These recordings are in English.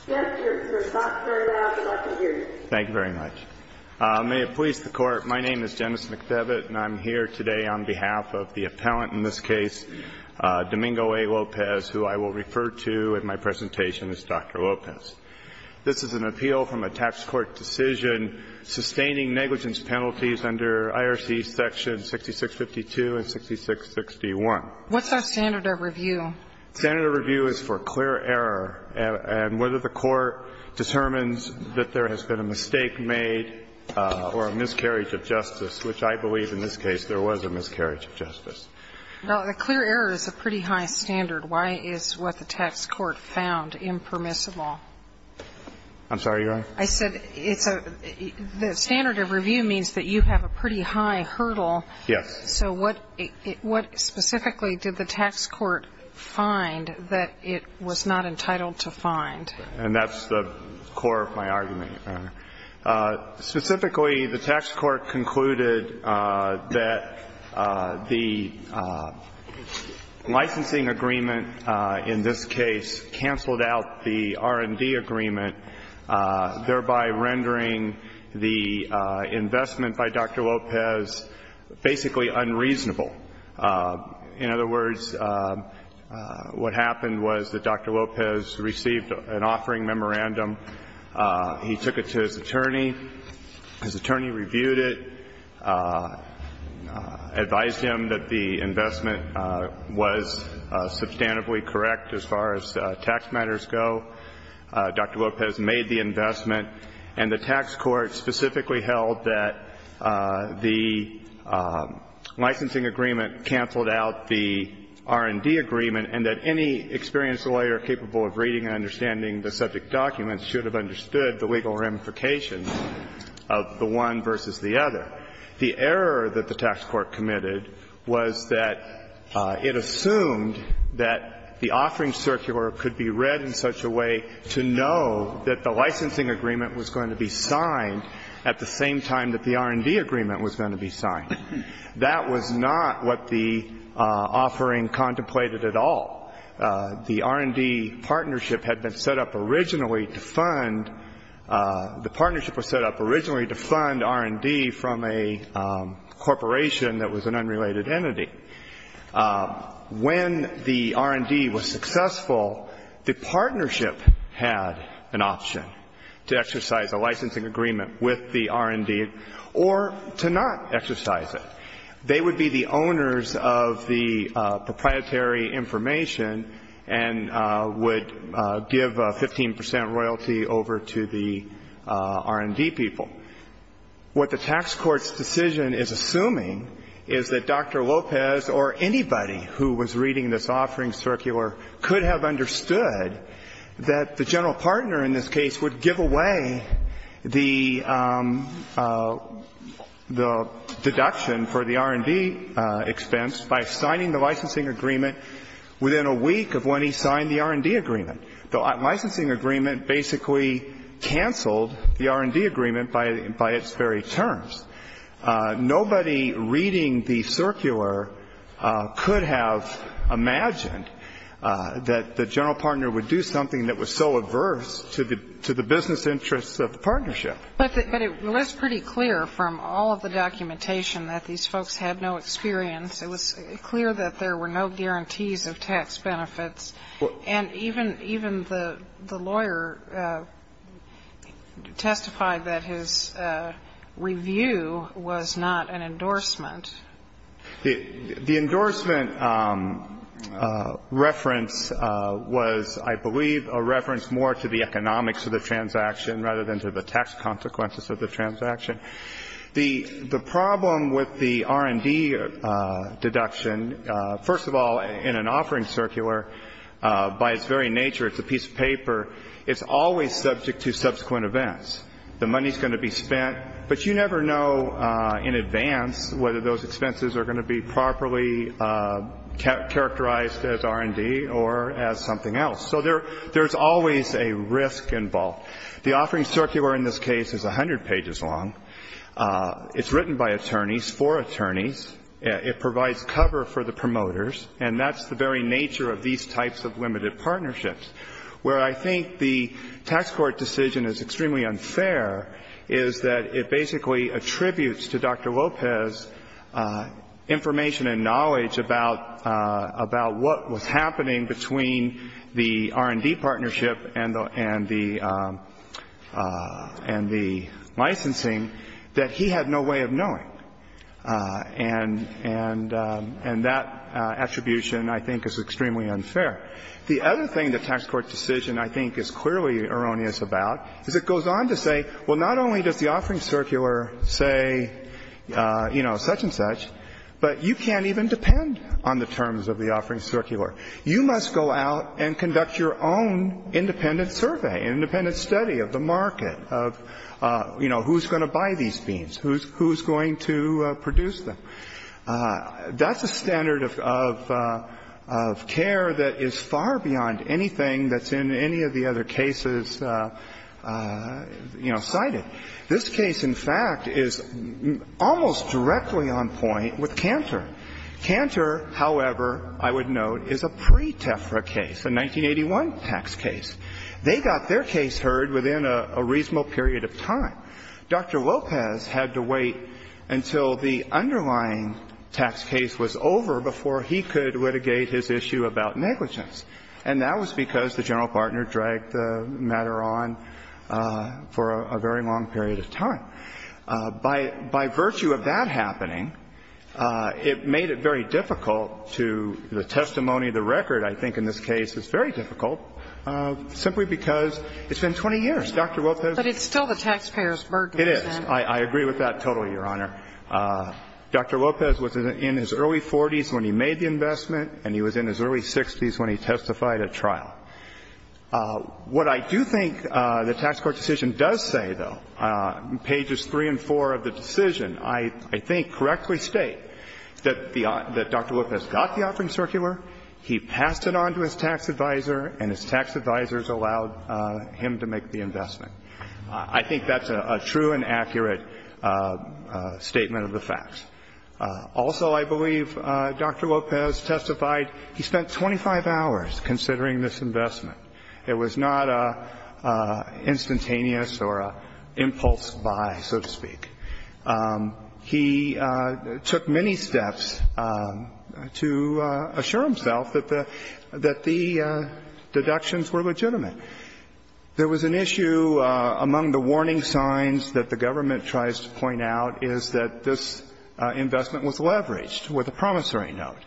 I'm here today on behalf of the appellant, in this case, Domingo A. Lopez, who I will refer to in my presentation as Dr. Lopez. This is an appeal from a tax court decision sustaining negligence penalties under IRC sections 6652 and 6661. What's our standard of review? Standard of review is for clear error and whether the court determines that there has been a mistake made or a miscarriage of justice, which I believe in this case there was a miscarriage of justice. Well, the clear error is a pretty high standard. Why is what the tax court found impermissible? I'm sorry, Your Honor? I said it's a – the standard of review means that you have a pretty high hurdle. Yes. So what specifically did the tax court find that it was not entitled to find? And that's the core of my argument, Your Honor. Specifically, the tax court concluded that the licensing agreement in this case canceled out the R&D agreement, thereby rendering the investment by Dr. Lopez basically unreasonable. In other words, what happened was that Dr. Lopez received an offering memorandum. He took it to his attorney. His attorney reviewed it, advised him that the investment was substantively correct as far as tax matters go. Dr. Lopez made the investment. And the tax court specifically held that the licensing agreement canceled out the R&D agreement and that any experienced lawyer capable of reading and understanding the subject documents should have understood the legal ramifications of the one versus the other. The error that the tax court committed was that it assumed that the offering could be read in such a way to know that the licensing agreement was going to be signed at the same time that the R&D agreement was going to be signed. That was not what the offering contemplated at all. The R&D partnership had been set up originally to fund – the partnership was set up originally to fund R&D from a corporation that was an unrelated entity. When the R&D was successful, the partnership had an option to exercise a licensing agreement with the R&D or to not exercise it. They would be the owners of the proprietary information and would give 15 percent royalty over to the R&D people. What the tax court's decision is assuming is that Dr. Lopez or anybody who was reading this offering, Circular, could have understood that the general partner in this case would give away the deduction for the R&D expense by signing the licensing agreement within a week of when he signed the R&D agreement. The licensing agreement basically canceled the R&D agreement by its very terms. Nobody reading the Circular could have imagined that the general partner would do something that was so adverse to the business interests of the partnership. But it was pretty clear from all of the documentation that these folks had no experience. It was clear that there were no guarantees of tax benefits. And even the lawyer testified that his review was not an endorsement. The endorsement reference was, I believe, a reference more to the economics of the transaction rather than to the tax consequences of the transaction. The problem with the R&D deduction, first of all, in an offering, Circular, by its very nature, it's a piece of paper. It's always subject to subsequent events. The money is going to be spent, but you never know in advance whether those expenses are going to be properly characterized as R&D or as something else. So there's always a risk involved. The offering Circular in this case is 100 pages long. It's written by attorneys for attorneys. It provides cover for the promoters. And that's the very nature of these types of limited partnerships. Where I think the tax court decision is extremely unfair is that it basically attributes to Dr. Lopez information and knowledge about what was happening between the R&D partnership and the licensing that he had no way of knowing. And that attribution, I think, is extremely unfair. The other thing the tax court decision, I think, is clearly erroneous about is it goes on to say, well, not only does the offering Circular say, you know, such and such, but you can't even depend on the terms of the offering Circular. You must go out and conduct your own independent survey, independent study of the market, of, you know, who's going to buy these beans, who's going to produce them. That's a standard of care that is far beyond anything that's in any of the other cases, you know, cited. This case, in fact, is almost directly on point with Cantor. Cantor, however, I would note, is a pre-TEFRA case, a 1981 tax case. They got their case heard within a reasonable period of time. Dr. Lopez had to wait until the underlying tax case was over before he could litigate his issue about negligence. And that was because the general partner dragged the matter on for a very long period of time. By virtue of that happening, it made it very difficult to the testimony of the record, I think, in this case, it's very difficult, simply because it's been 20 years. Dr. Lopez. But it's still the taxpayer's burden. It is. I agree with that totally, Your Honor. Dr. Lopez was in his early 40s when he made the investment, and he was in his early 60s when he testified at trial. What I do think the tax court decision does say, though, pages 3 and 4 of the decision, I think, correctly state that Dr. Lopez got the offering circular, he passed it on to his tax advisor, and his tax advisors allowed him to make the investment. I think that's a true and accurate statement of the facts. Also, I believe Dr. Lopez testified he spent 25 hours considering this investment. It was not instantaneous or an impulse buy, so to speak. He took many steps to assure himself that the deductions were legitimate. There was an issue among the warning signs that the government tries to point out is that this investment was leveraged with a promissory note,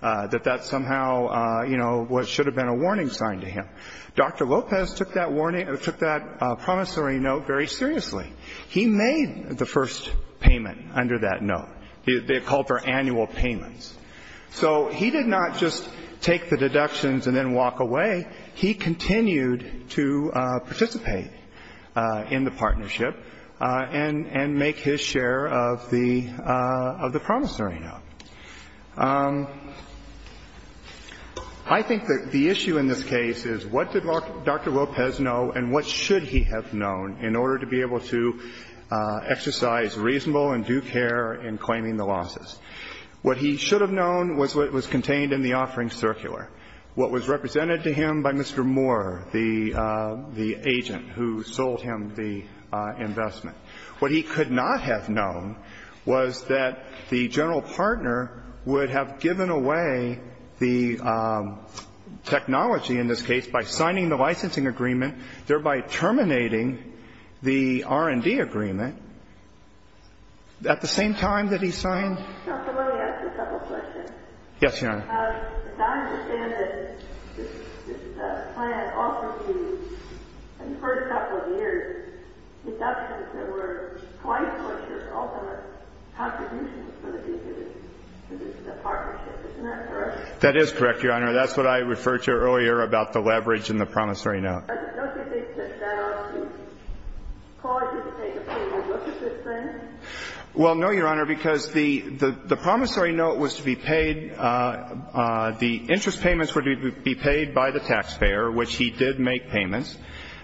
that that somehow, you know, should have been a warning sign to him. Dr. Lopez took that warning or took that promissory note very seriously. He made the first payment under that note. They called for annual payments. So he did not just take the deductions and then walk away. He continued to participate in the partnership and make his share of the promissory note. I think that the issue in this case is what did Dr. Lopez know and what should he have known in order to be able to exercise reasonable and due care in claiming the losses. What he should have known was what was contained in the offering circular. What was represented to him by Mr. Moore, the agent who sold him the investment. What he could not have known was that the general partner would have given away the technology in this case by signing the licensing agreement, thereby terminating the R&D agreement at the same time that he signed. Yes, Your Honor. That is correct, Your Honor. That's what I referred to earlier about the leverage in the promissory note. Well, no, Your Honor, because the promissory note was to be paid, the interest payments were to be paid by the taxpayer, which he did make payments.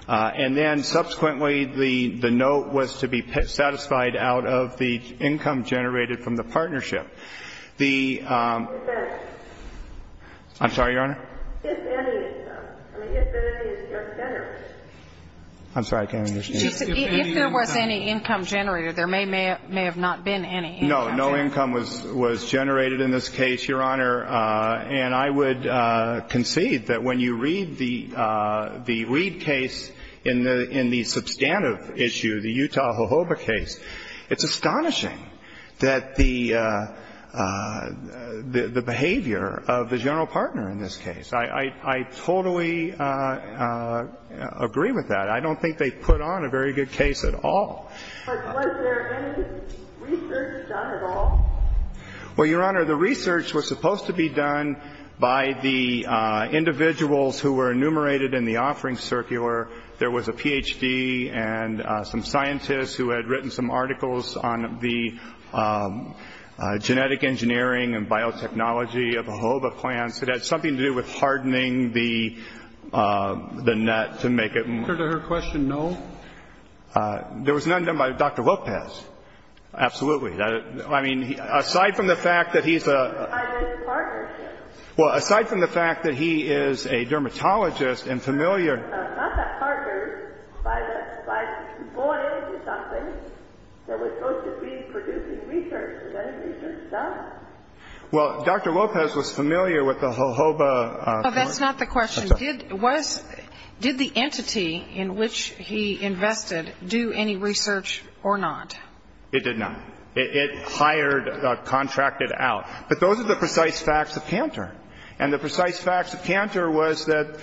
And then subsequently the note was to be satisfied out of the income generated from the partnership. I'm sorry, Your Honor. I'm sorry, I can't understand. If there was any income generated, there may have not been any income generated. No, no income was generated in this case, Your Honor. And I would concede that when you read the Reid case in the substantive issue, the Utah Jojoba case, it's astonishing that the behavior of the general partner in this case. I totally agree with that. I don't think they put on a very good case at all. But was there any research done at all? Well, Your Honor, the research was supposed to be done by the individuals who were enumerated in the offerings circular. There was a Ph.D. and some scientists who had written some articles on the genetic engineering and biotechnology of Jojoba plants. It had something to do with hardening the net to make it more. Answer to her question, no. There was none done by Dr. Lopez. Absolutely. I mean, aside from the fact that he's a... By this partnership. Well, aside from the fact that he is a dermatologist and familiar... Not that partnered. By going into something that was supposed to be producing research. Is that research? No. Well, Dr. Lopez was familiar with the Jojoba... That's not the question. Did the entity in which he invested do any research or not? It did not. It hired, contracted out. But those are the precise facts of Cantor. And the precise facts of Cantor was that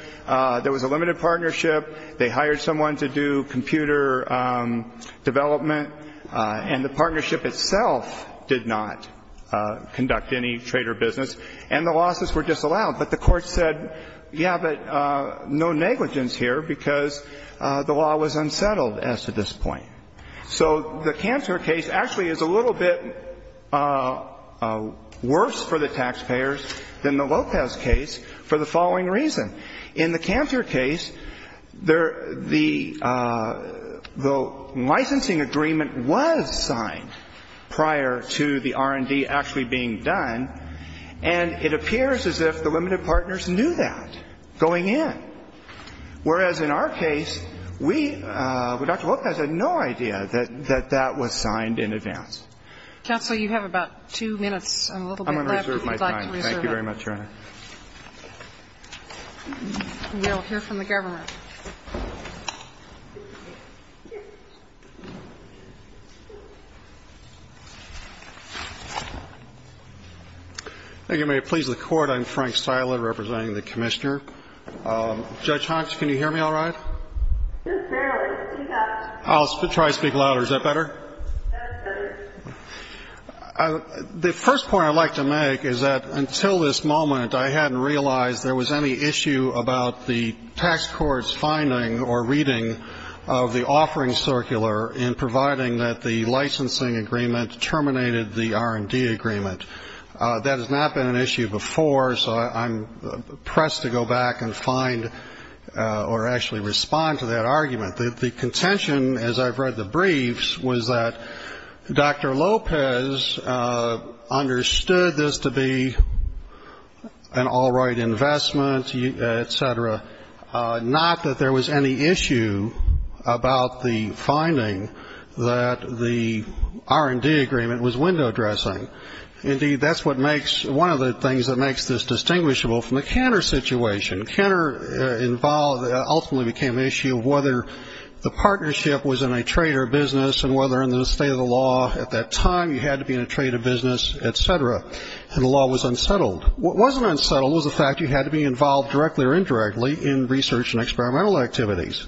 there was a limited partnership. They hired someone to do computer development. And the partnership itself did not conduct any trade or business. And the losses were disallowed. But the court said, yeah, but no negligence here because the law was unsettled as to this point. So the Cantor case actually is a little bit worse for the taxpayers than the Lopez case for the following reason. In the Cantor case, the licensing agreement was signed prior to the R&D actually being done. And it appears as if the limited partners knew that going in. Whereas in our case, we, Dr. Lopez had no idea that that was signed in advance. Counsel, you have about two minutes and a little bit left. I'm going to reserve my time. Thank you very much, Your Honor. We will hear from the government. Thank you. May it please the Court. I'm Frank Styler representing the Commissioner. Judge Hunt, can you hear me all right? Just barely. I'll try to speak louder. Is that better? That's better. The first point I'd like to make is that until this moment, I hadn't realized there was any issue about the tax court's finding or reading of the offering circular in providing that the licensing agreement terminated the R&D agreement. That has not been an issue before, so I'm pressed to go back and find or actually respond to that argument. The contention, as I've read the briefs, was that Dr. Lopez understood this to be an all-right investment, et cetera, not that there was any issue about the finding that the R&D agreement was window dressing. Indeed, that's what makes one of the things that makes this distinguishable from the Cantor situation. Cantor ultimately became the issue of whether the partnership was in a trade or a business and whether in the state of the law at that time you had to be in a trade or business, et cetera, and the law was unsettled. What wasn't unsettled was the fact you had to be involved directly or indirectly in research and experimental activities.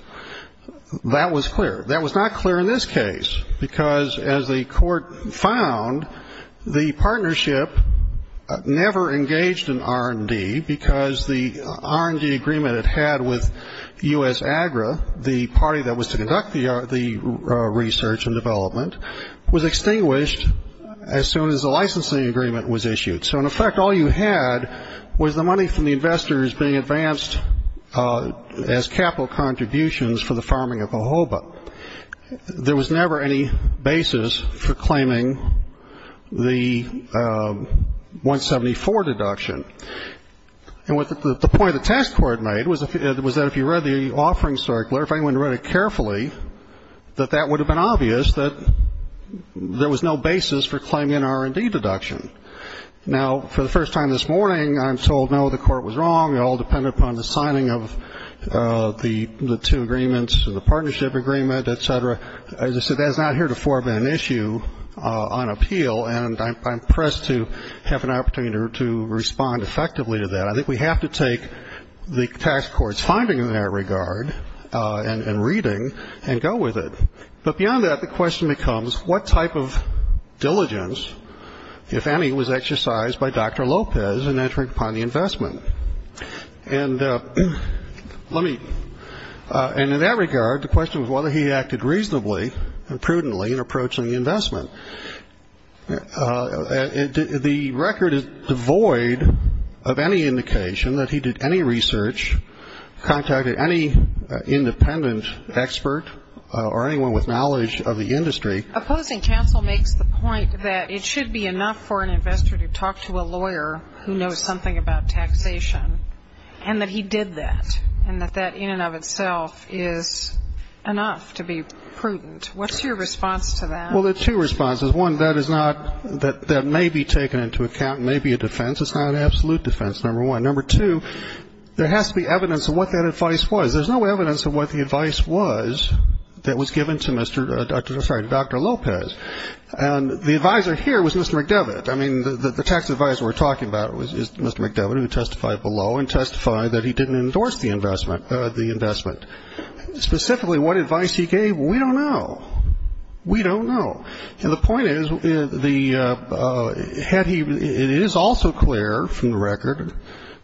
That was clear. That was not clear in this case because, as the Court found, the partnership never engaged in R&D because the R&D agreement it had with U.S. AGRA, the party that was to conduct the research and development, was extinguished as soon as the licensing agreement was issued. So, in effect, all you had was the money from the investors being advanced as capital contributions for the farming of Jojoba. There was never any basis for claiming the 174 deduction. And the point the task court made was that if you read the offering circular, if anyone read it carefully, that that would have been obvious that there was no basis for claiming an R&D deduction. Now, for the first time this morning, I'm told, no, the Court was wrong. It all depended upon the signing of the two agreements and the partnership agreement, et cetera. As I said, that is not here to form an issue on appeal, and I'm pressed to have an opportunity to respond effectively to that. I think we have to take the task court's finding in that regard and reading and go with it. But beyond that, the question becomes what type of diligence, if any, was exercised by Dr. Lopez in entering upon the investment? And let me – and in that regard, the question was whether he acted reasonably and prudently in approaching the investment. The record is devoid of any indication that he did any research, contacted any independent expert or anyone with knowledge of the industry. Opposing counsel makes the point that it should be enough for an investor to talk to a lawyer who knows something about taxation, and that he did that, and that that in and of itself is enough to be prudent. What's your response to that? Well, there are two responses. One, that is not – that may be taken into account and may be a defense. It's not an absolute defense, number one. Number two, there has to be evidence of what that advice was. There's no evidence of what the advice was that was given to Mr. – sorry, Dr. Lopez. And the advisor here was Mr. McDevitt. I mean, the tax advisor we're talking about is Mr. McDevitt, who testified below and testified that he didn't endorse the investment. Specifically, what advice he gave, we don't know. We don't know. And the point is, the – had he – it is also clear from the record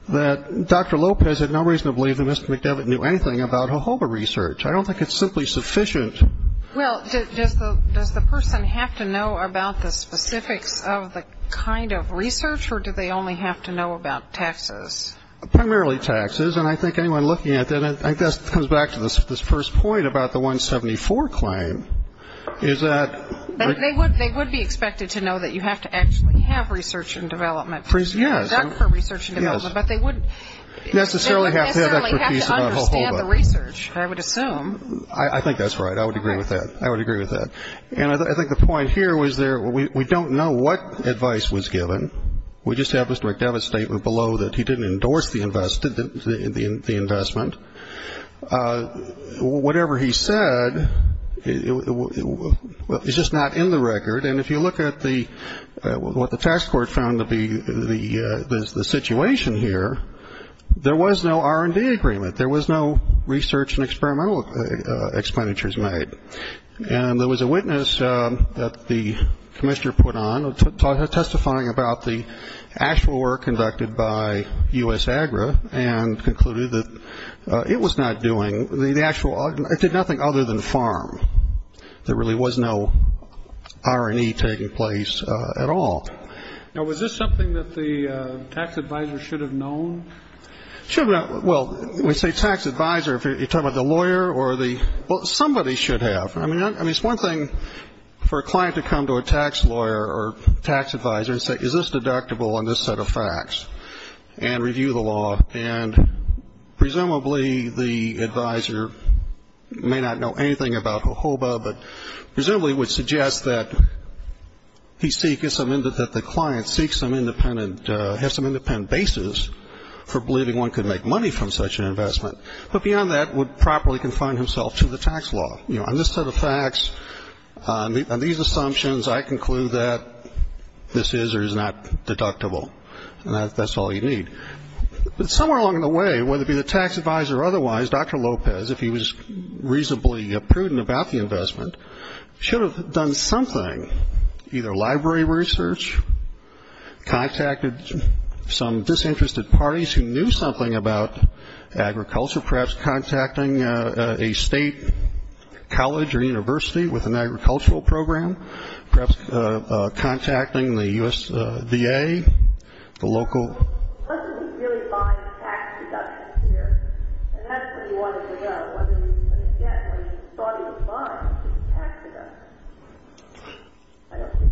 that Dr. Lopez had no reason to believe that Mr. McDevitt knew anything about HOHOBA research. I don't think it's simply sufficient. Well, does the person have to know about the specifics of the kind of research, or do they only have to know about taxes? Primarily taxes. And I think anyone looking at that, I guess, comes back to this first point about the 174 claim, is that – They would be expected to know that you have to actually have research and development. Yes. But they wouldn't necessarily have to understand the research, I would assume. I think that's right. I would agree with that. I would agree with that. And I think the point here was there – we don't know what advice was given. We just have Mr. McDevitt's statement below that he didn't endorse the investment. Whatever he said is just not in the record. And if you look at what the tax court found to be the situation here, there was no R&D agreement. There was no research and experimental expenditures made. And there was a witness that the commissioner put on testifying about the actual work conducted by U.S. Agri and concluded that it was not doing – it did nothing other than farm. There really was no R&D taking place at all. Now, was this something that the tax advisor should have known? Well, when you say tax advisor, you're talking about the lawyer or the – well, somebody should have. I mean, it's one thing for a client to come to a tax lawyer or tax advisor and say, is this deductible on this set of facts, and review the law. And presumably the advisor may not know anything about HOBA, but presumably would suggest that he seek – that the client seek some independent – have some independent basis for believing one could make money from such an investment. But beyond that, would properly confine himself to the tax law. You know, on this set of facts, on these assumptions, I conclude that this is or is not deductible. And that's all you need. But somewhere along the way, whether it be the tax advisor or otherwise, Dr. Lopez, if he was reasonably prudent about the investment, should have done something, either library research, contacted some disinterested parties who knew something about agriculture, perhaps contacting a state college or university with an agricultural program, perhaps contacting the U.S. VA, the local –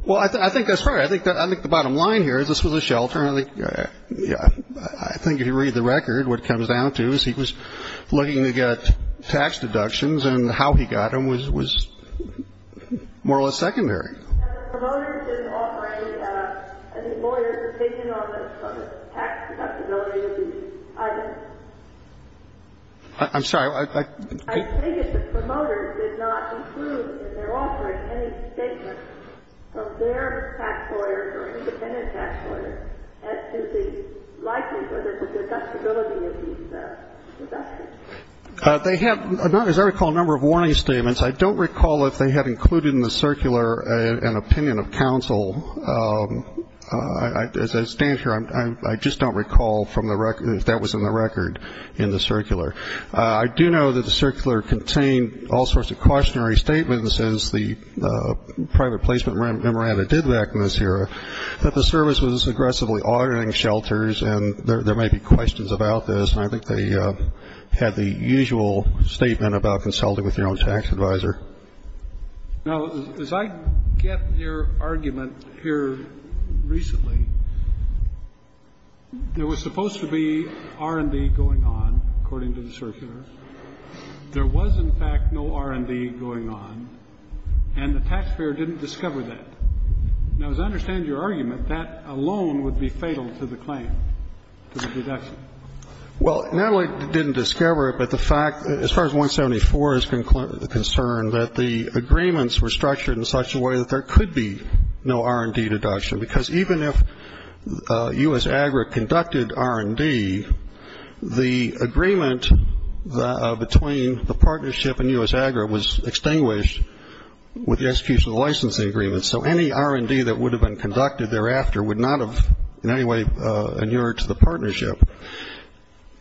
Well, I think that's right. I think the bottom line here is this was a shelter. I think if you read the record, what it comes down to is he was looking to get tax deductions, and how he got them was more or less secondary. And the promoters didn't offer any lawyers a statement on the tax deductibility of these items. I'm sorry. I think that the promoters did not include in their offering any statements from their tax lawyers or independent tax lawyers as to the likelihood of a deductibility of these investments. They have, as I recall, a number of warning statements. I don't recall if they had included in the circular an opinion of counsel. As I stand here, I just don't recall if that was in the record in the circular. I do know that the circular contained all sorts of cautionary statements, as the private placement memoranda did back in this era, that the service was aggressively auditing shelters, and there may be questions about this. And I think they had the usual statement about consulting with your own tax advisor. Now, as I get your argument here recently, there was supposed to be R&D going on, according to the circular. There was, in fact, no R&D going on, and the taxpayer didn't discover that. Now, as I understand your argument, that alone would be fatal to the claim, to the deduction. Well, not only didn't discover it, but the fact, as far as 174 is concerned, that the agreements were structured in such a way that there could be no R&D deduction, because even if U.S. AGRA conducted R&D, the agreement between the partnership and U.S. AGRA was extinguished with the execution of the licensing agreement. So any R&D that would have been conducted thereafter would not have in any way inured to the partnership.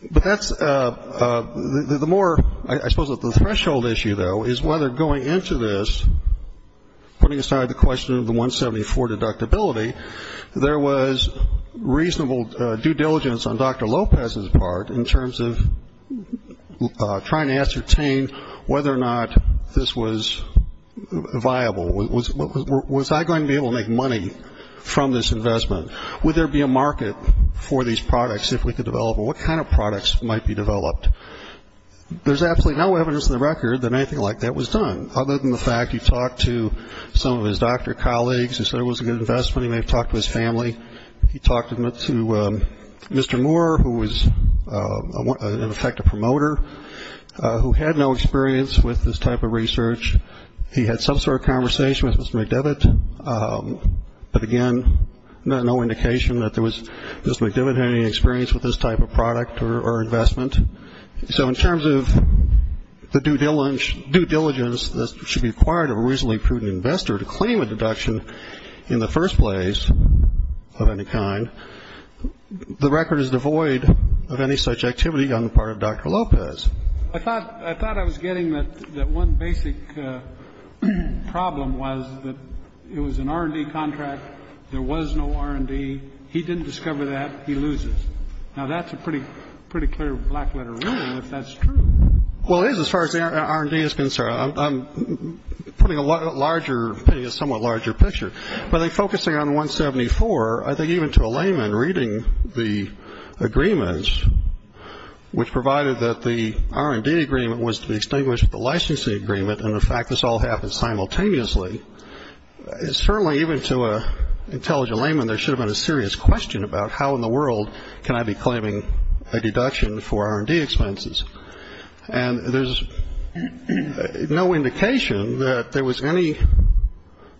But that's the more, I suppose, the threshold issue, though, is whether going into this, putting aside the question of the 174 deductibility, there was reasonable due diligence on Dr. Lopez's part in terms of trying to ascertain whether or not this was viable, was I going to be able to make money from this investment? Would there be a market for these products if we could develop them? What kind of products might be developed? There's absolutely no evidence on the record that anything like that was done, other than the fact he talked to some of his doctor colleagues and said it was a good investment. He may have talked to his family. He talked to Mr. Moore, who was, in effect, a promoter, who had no experience with this type of research. He had some sort of conversation with Mr. McDevitt, but, again, no indication that Mr. McDevitt had any experience with this type of product or investment. So in terms of the due diligence that should be required of a reasonably prudent investor to claim a deduction in the first place of any kind, the record is devoid of any such activity on the part of Dr. Lopez. I thought I was getting that one basic problem was that it was an R&D contract. There was no R&D. He didn't discover that. He loses. Now, that's a pretty clear black-letter ruling, if that's true. Well, it is as far as the R&D is concerned. I'm putting a somewhat larger picture. But focusing on 174, I think even to a layman, reading the agreements, which provided that the R&D agreement was to be extinguished with the licensing agreement, and, in fact, this all happened simultaneously, certainly even to an intelligent layman there should have been a serious question about, how in the world can I be claiming a deduction for R&D expenses? And there's no indication that there was any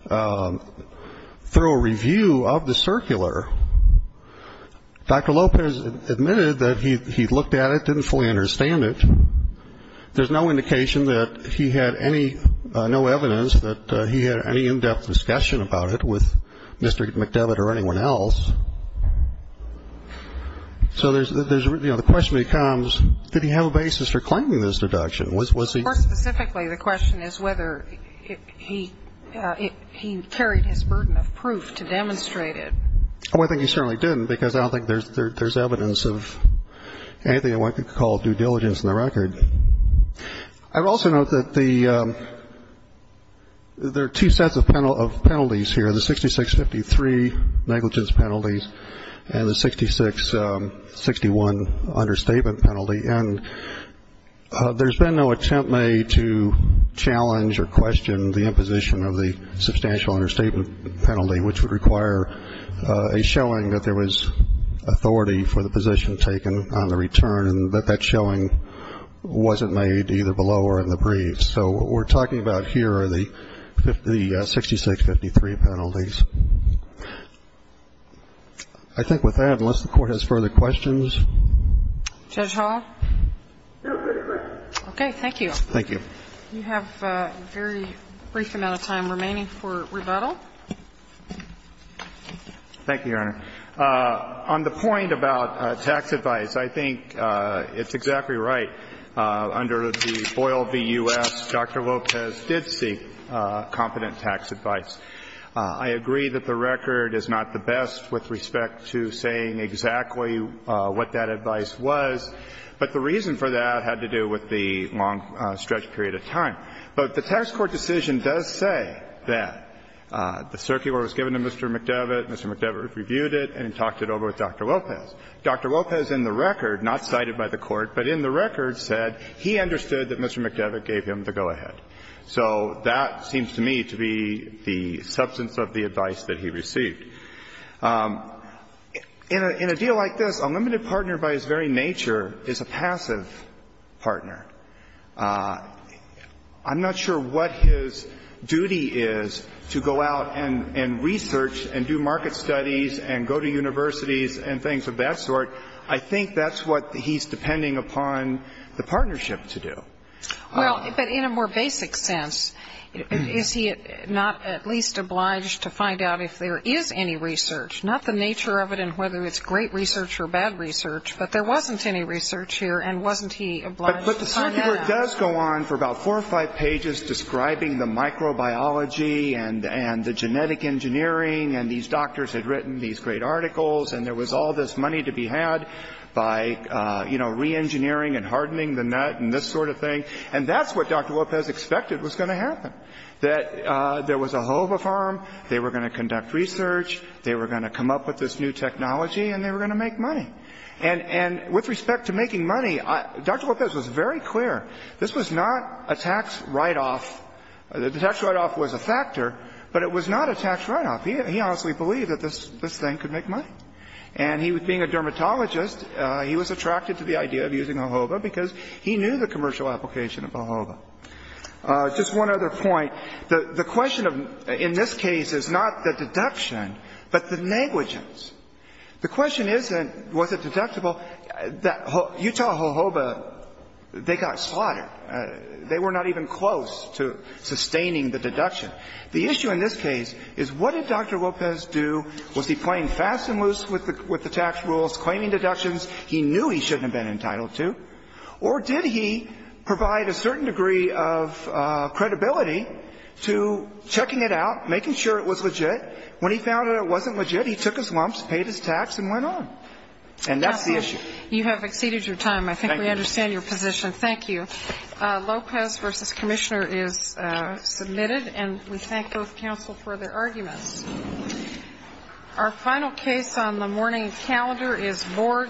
thorough review of the circular. Dr. Lopez admitted that he looked at it, didn't fully understand it. There's no indication that he had any no evidence that he had any in-depth discussion about it with Mr. McDevitt or anyone else. So the question becomes, did he have a basis for claiming this deduction? More specifically, the question is whether he carried his burden of proof to demonstrate it. Well, I think he certainly didn't, because I don't think there's evidence of anything I want to call due diligence in the record. I would also note that there are two sets of penalties here, the 6653 negligence penalties and the 6661 understatement penalty. And there's been no attempt made to challenge or question the imposition of the substantial understatement penalty, which would require a showing that there was authority for the position taken on the return, but that showing wasn't made either below or in the briefs. So what we're talking about here are the 6653 penalties. I think with that, unless the Court has further questions. Judge Hall? No further questions. Okay. Thank you. Thank you. You have a very brief amount of time remaining for rebuttal. Thank you, Your Honor. On the point about tax advice, I think it's exactly right. Under the Boyle v. U.S., Dr. Lopez did seek competent tax advice. I agree that the record is not the best with respect to saying exactly what that advice was, but the reason for that had to do with the long stretch period of time. But the tax court decision does say that the circular was given to Mr. McDevitt, Mr. McDevitt reviewed it and talked it over with Dr. Lopez. Dr. Lopez in the record, not cited by the Court, but in the record said he understood that Mr. McDevitt gave him the go-ahead. So that seems to me to be the substance of the advice that he received. In a deal like this, a limited partner by his very nature is a passive partner. I'm not sure what his duty is to go out and research and do market studies and go to universities and things of that sort. I think that's what he's depending upon the partnership to do. Well, but in a more basic sense, is he not at least obliged to find out if there is any research, not the nature of it and whether it's great research or bad research, but there wasn't any research here and wasn't he obliged to find out? But the circular does go on for about four or five pages describing the microbiology and the genetic engineering and these doctors had written these great articles and there was all this money to be had by, you know, reengineering and hardening the nut and this sort of thing. And that's what Dr. Lopez expected was going to happen, that there was a HOVA farm, they were going to conduct research, they were going to come up with this new technology, and they were going to make money. And with respect to making money, Dr. Lopez was very clear this was not a tax write-off. The tax write-off was a factor, but it was not a tax write-off. He honestly believed that this thing could make money. And being a dermatologist, he was attracted to the idea of using a HOVA because he knew the commercial application of a HOVA. Just one other point. The question in this case is not the deduction, but the negligence. The question isn't was it deductible. Utah HOVA, they got slaughtered. They were not even close to sustaining the deduction. The issue in this case is what did Dr. Lopez do? Was he playing fast and loose with the tax rules, claiming deductions he knew he shouldn't have been entitled to? Or did he provide a certain degree of credibility to checking it out, making sure it was legit? When he found out it wasn't legit, he took his lumps, paid his tax and went on. And that's the issue. You have exceeded your time. Thank you. I think we understand your position. Thank you. Lopez v. Commissioner is submitted. And we thank both counsel for their arguments. Our final case on the morning calendar is Borg v. White.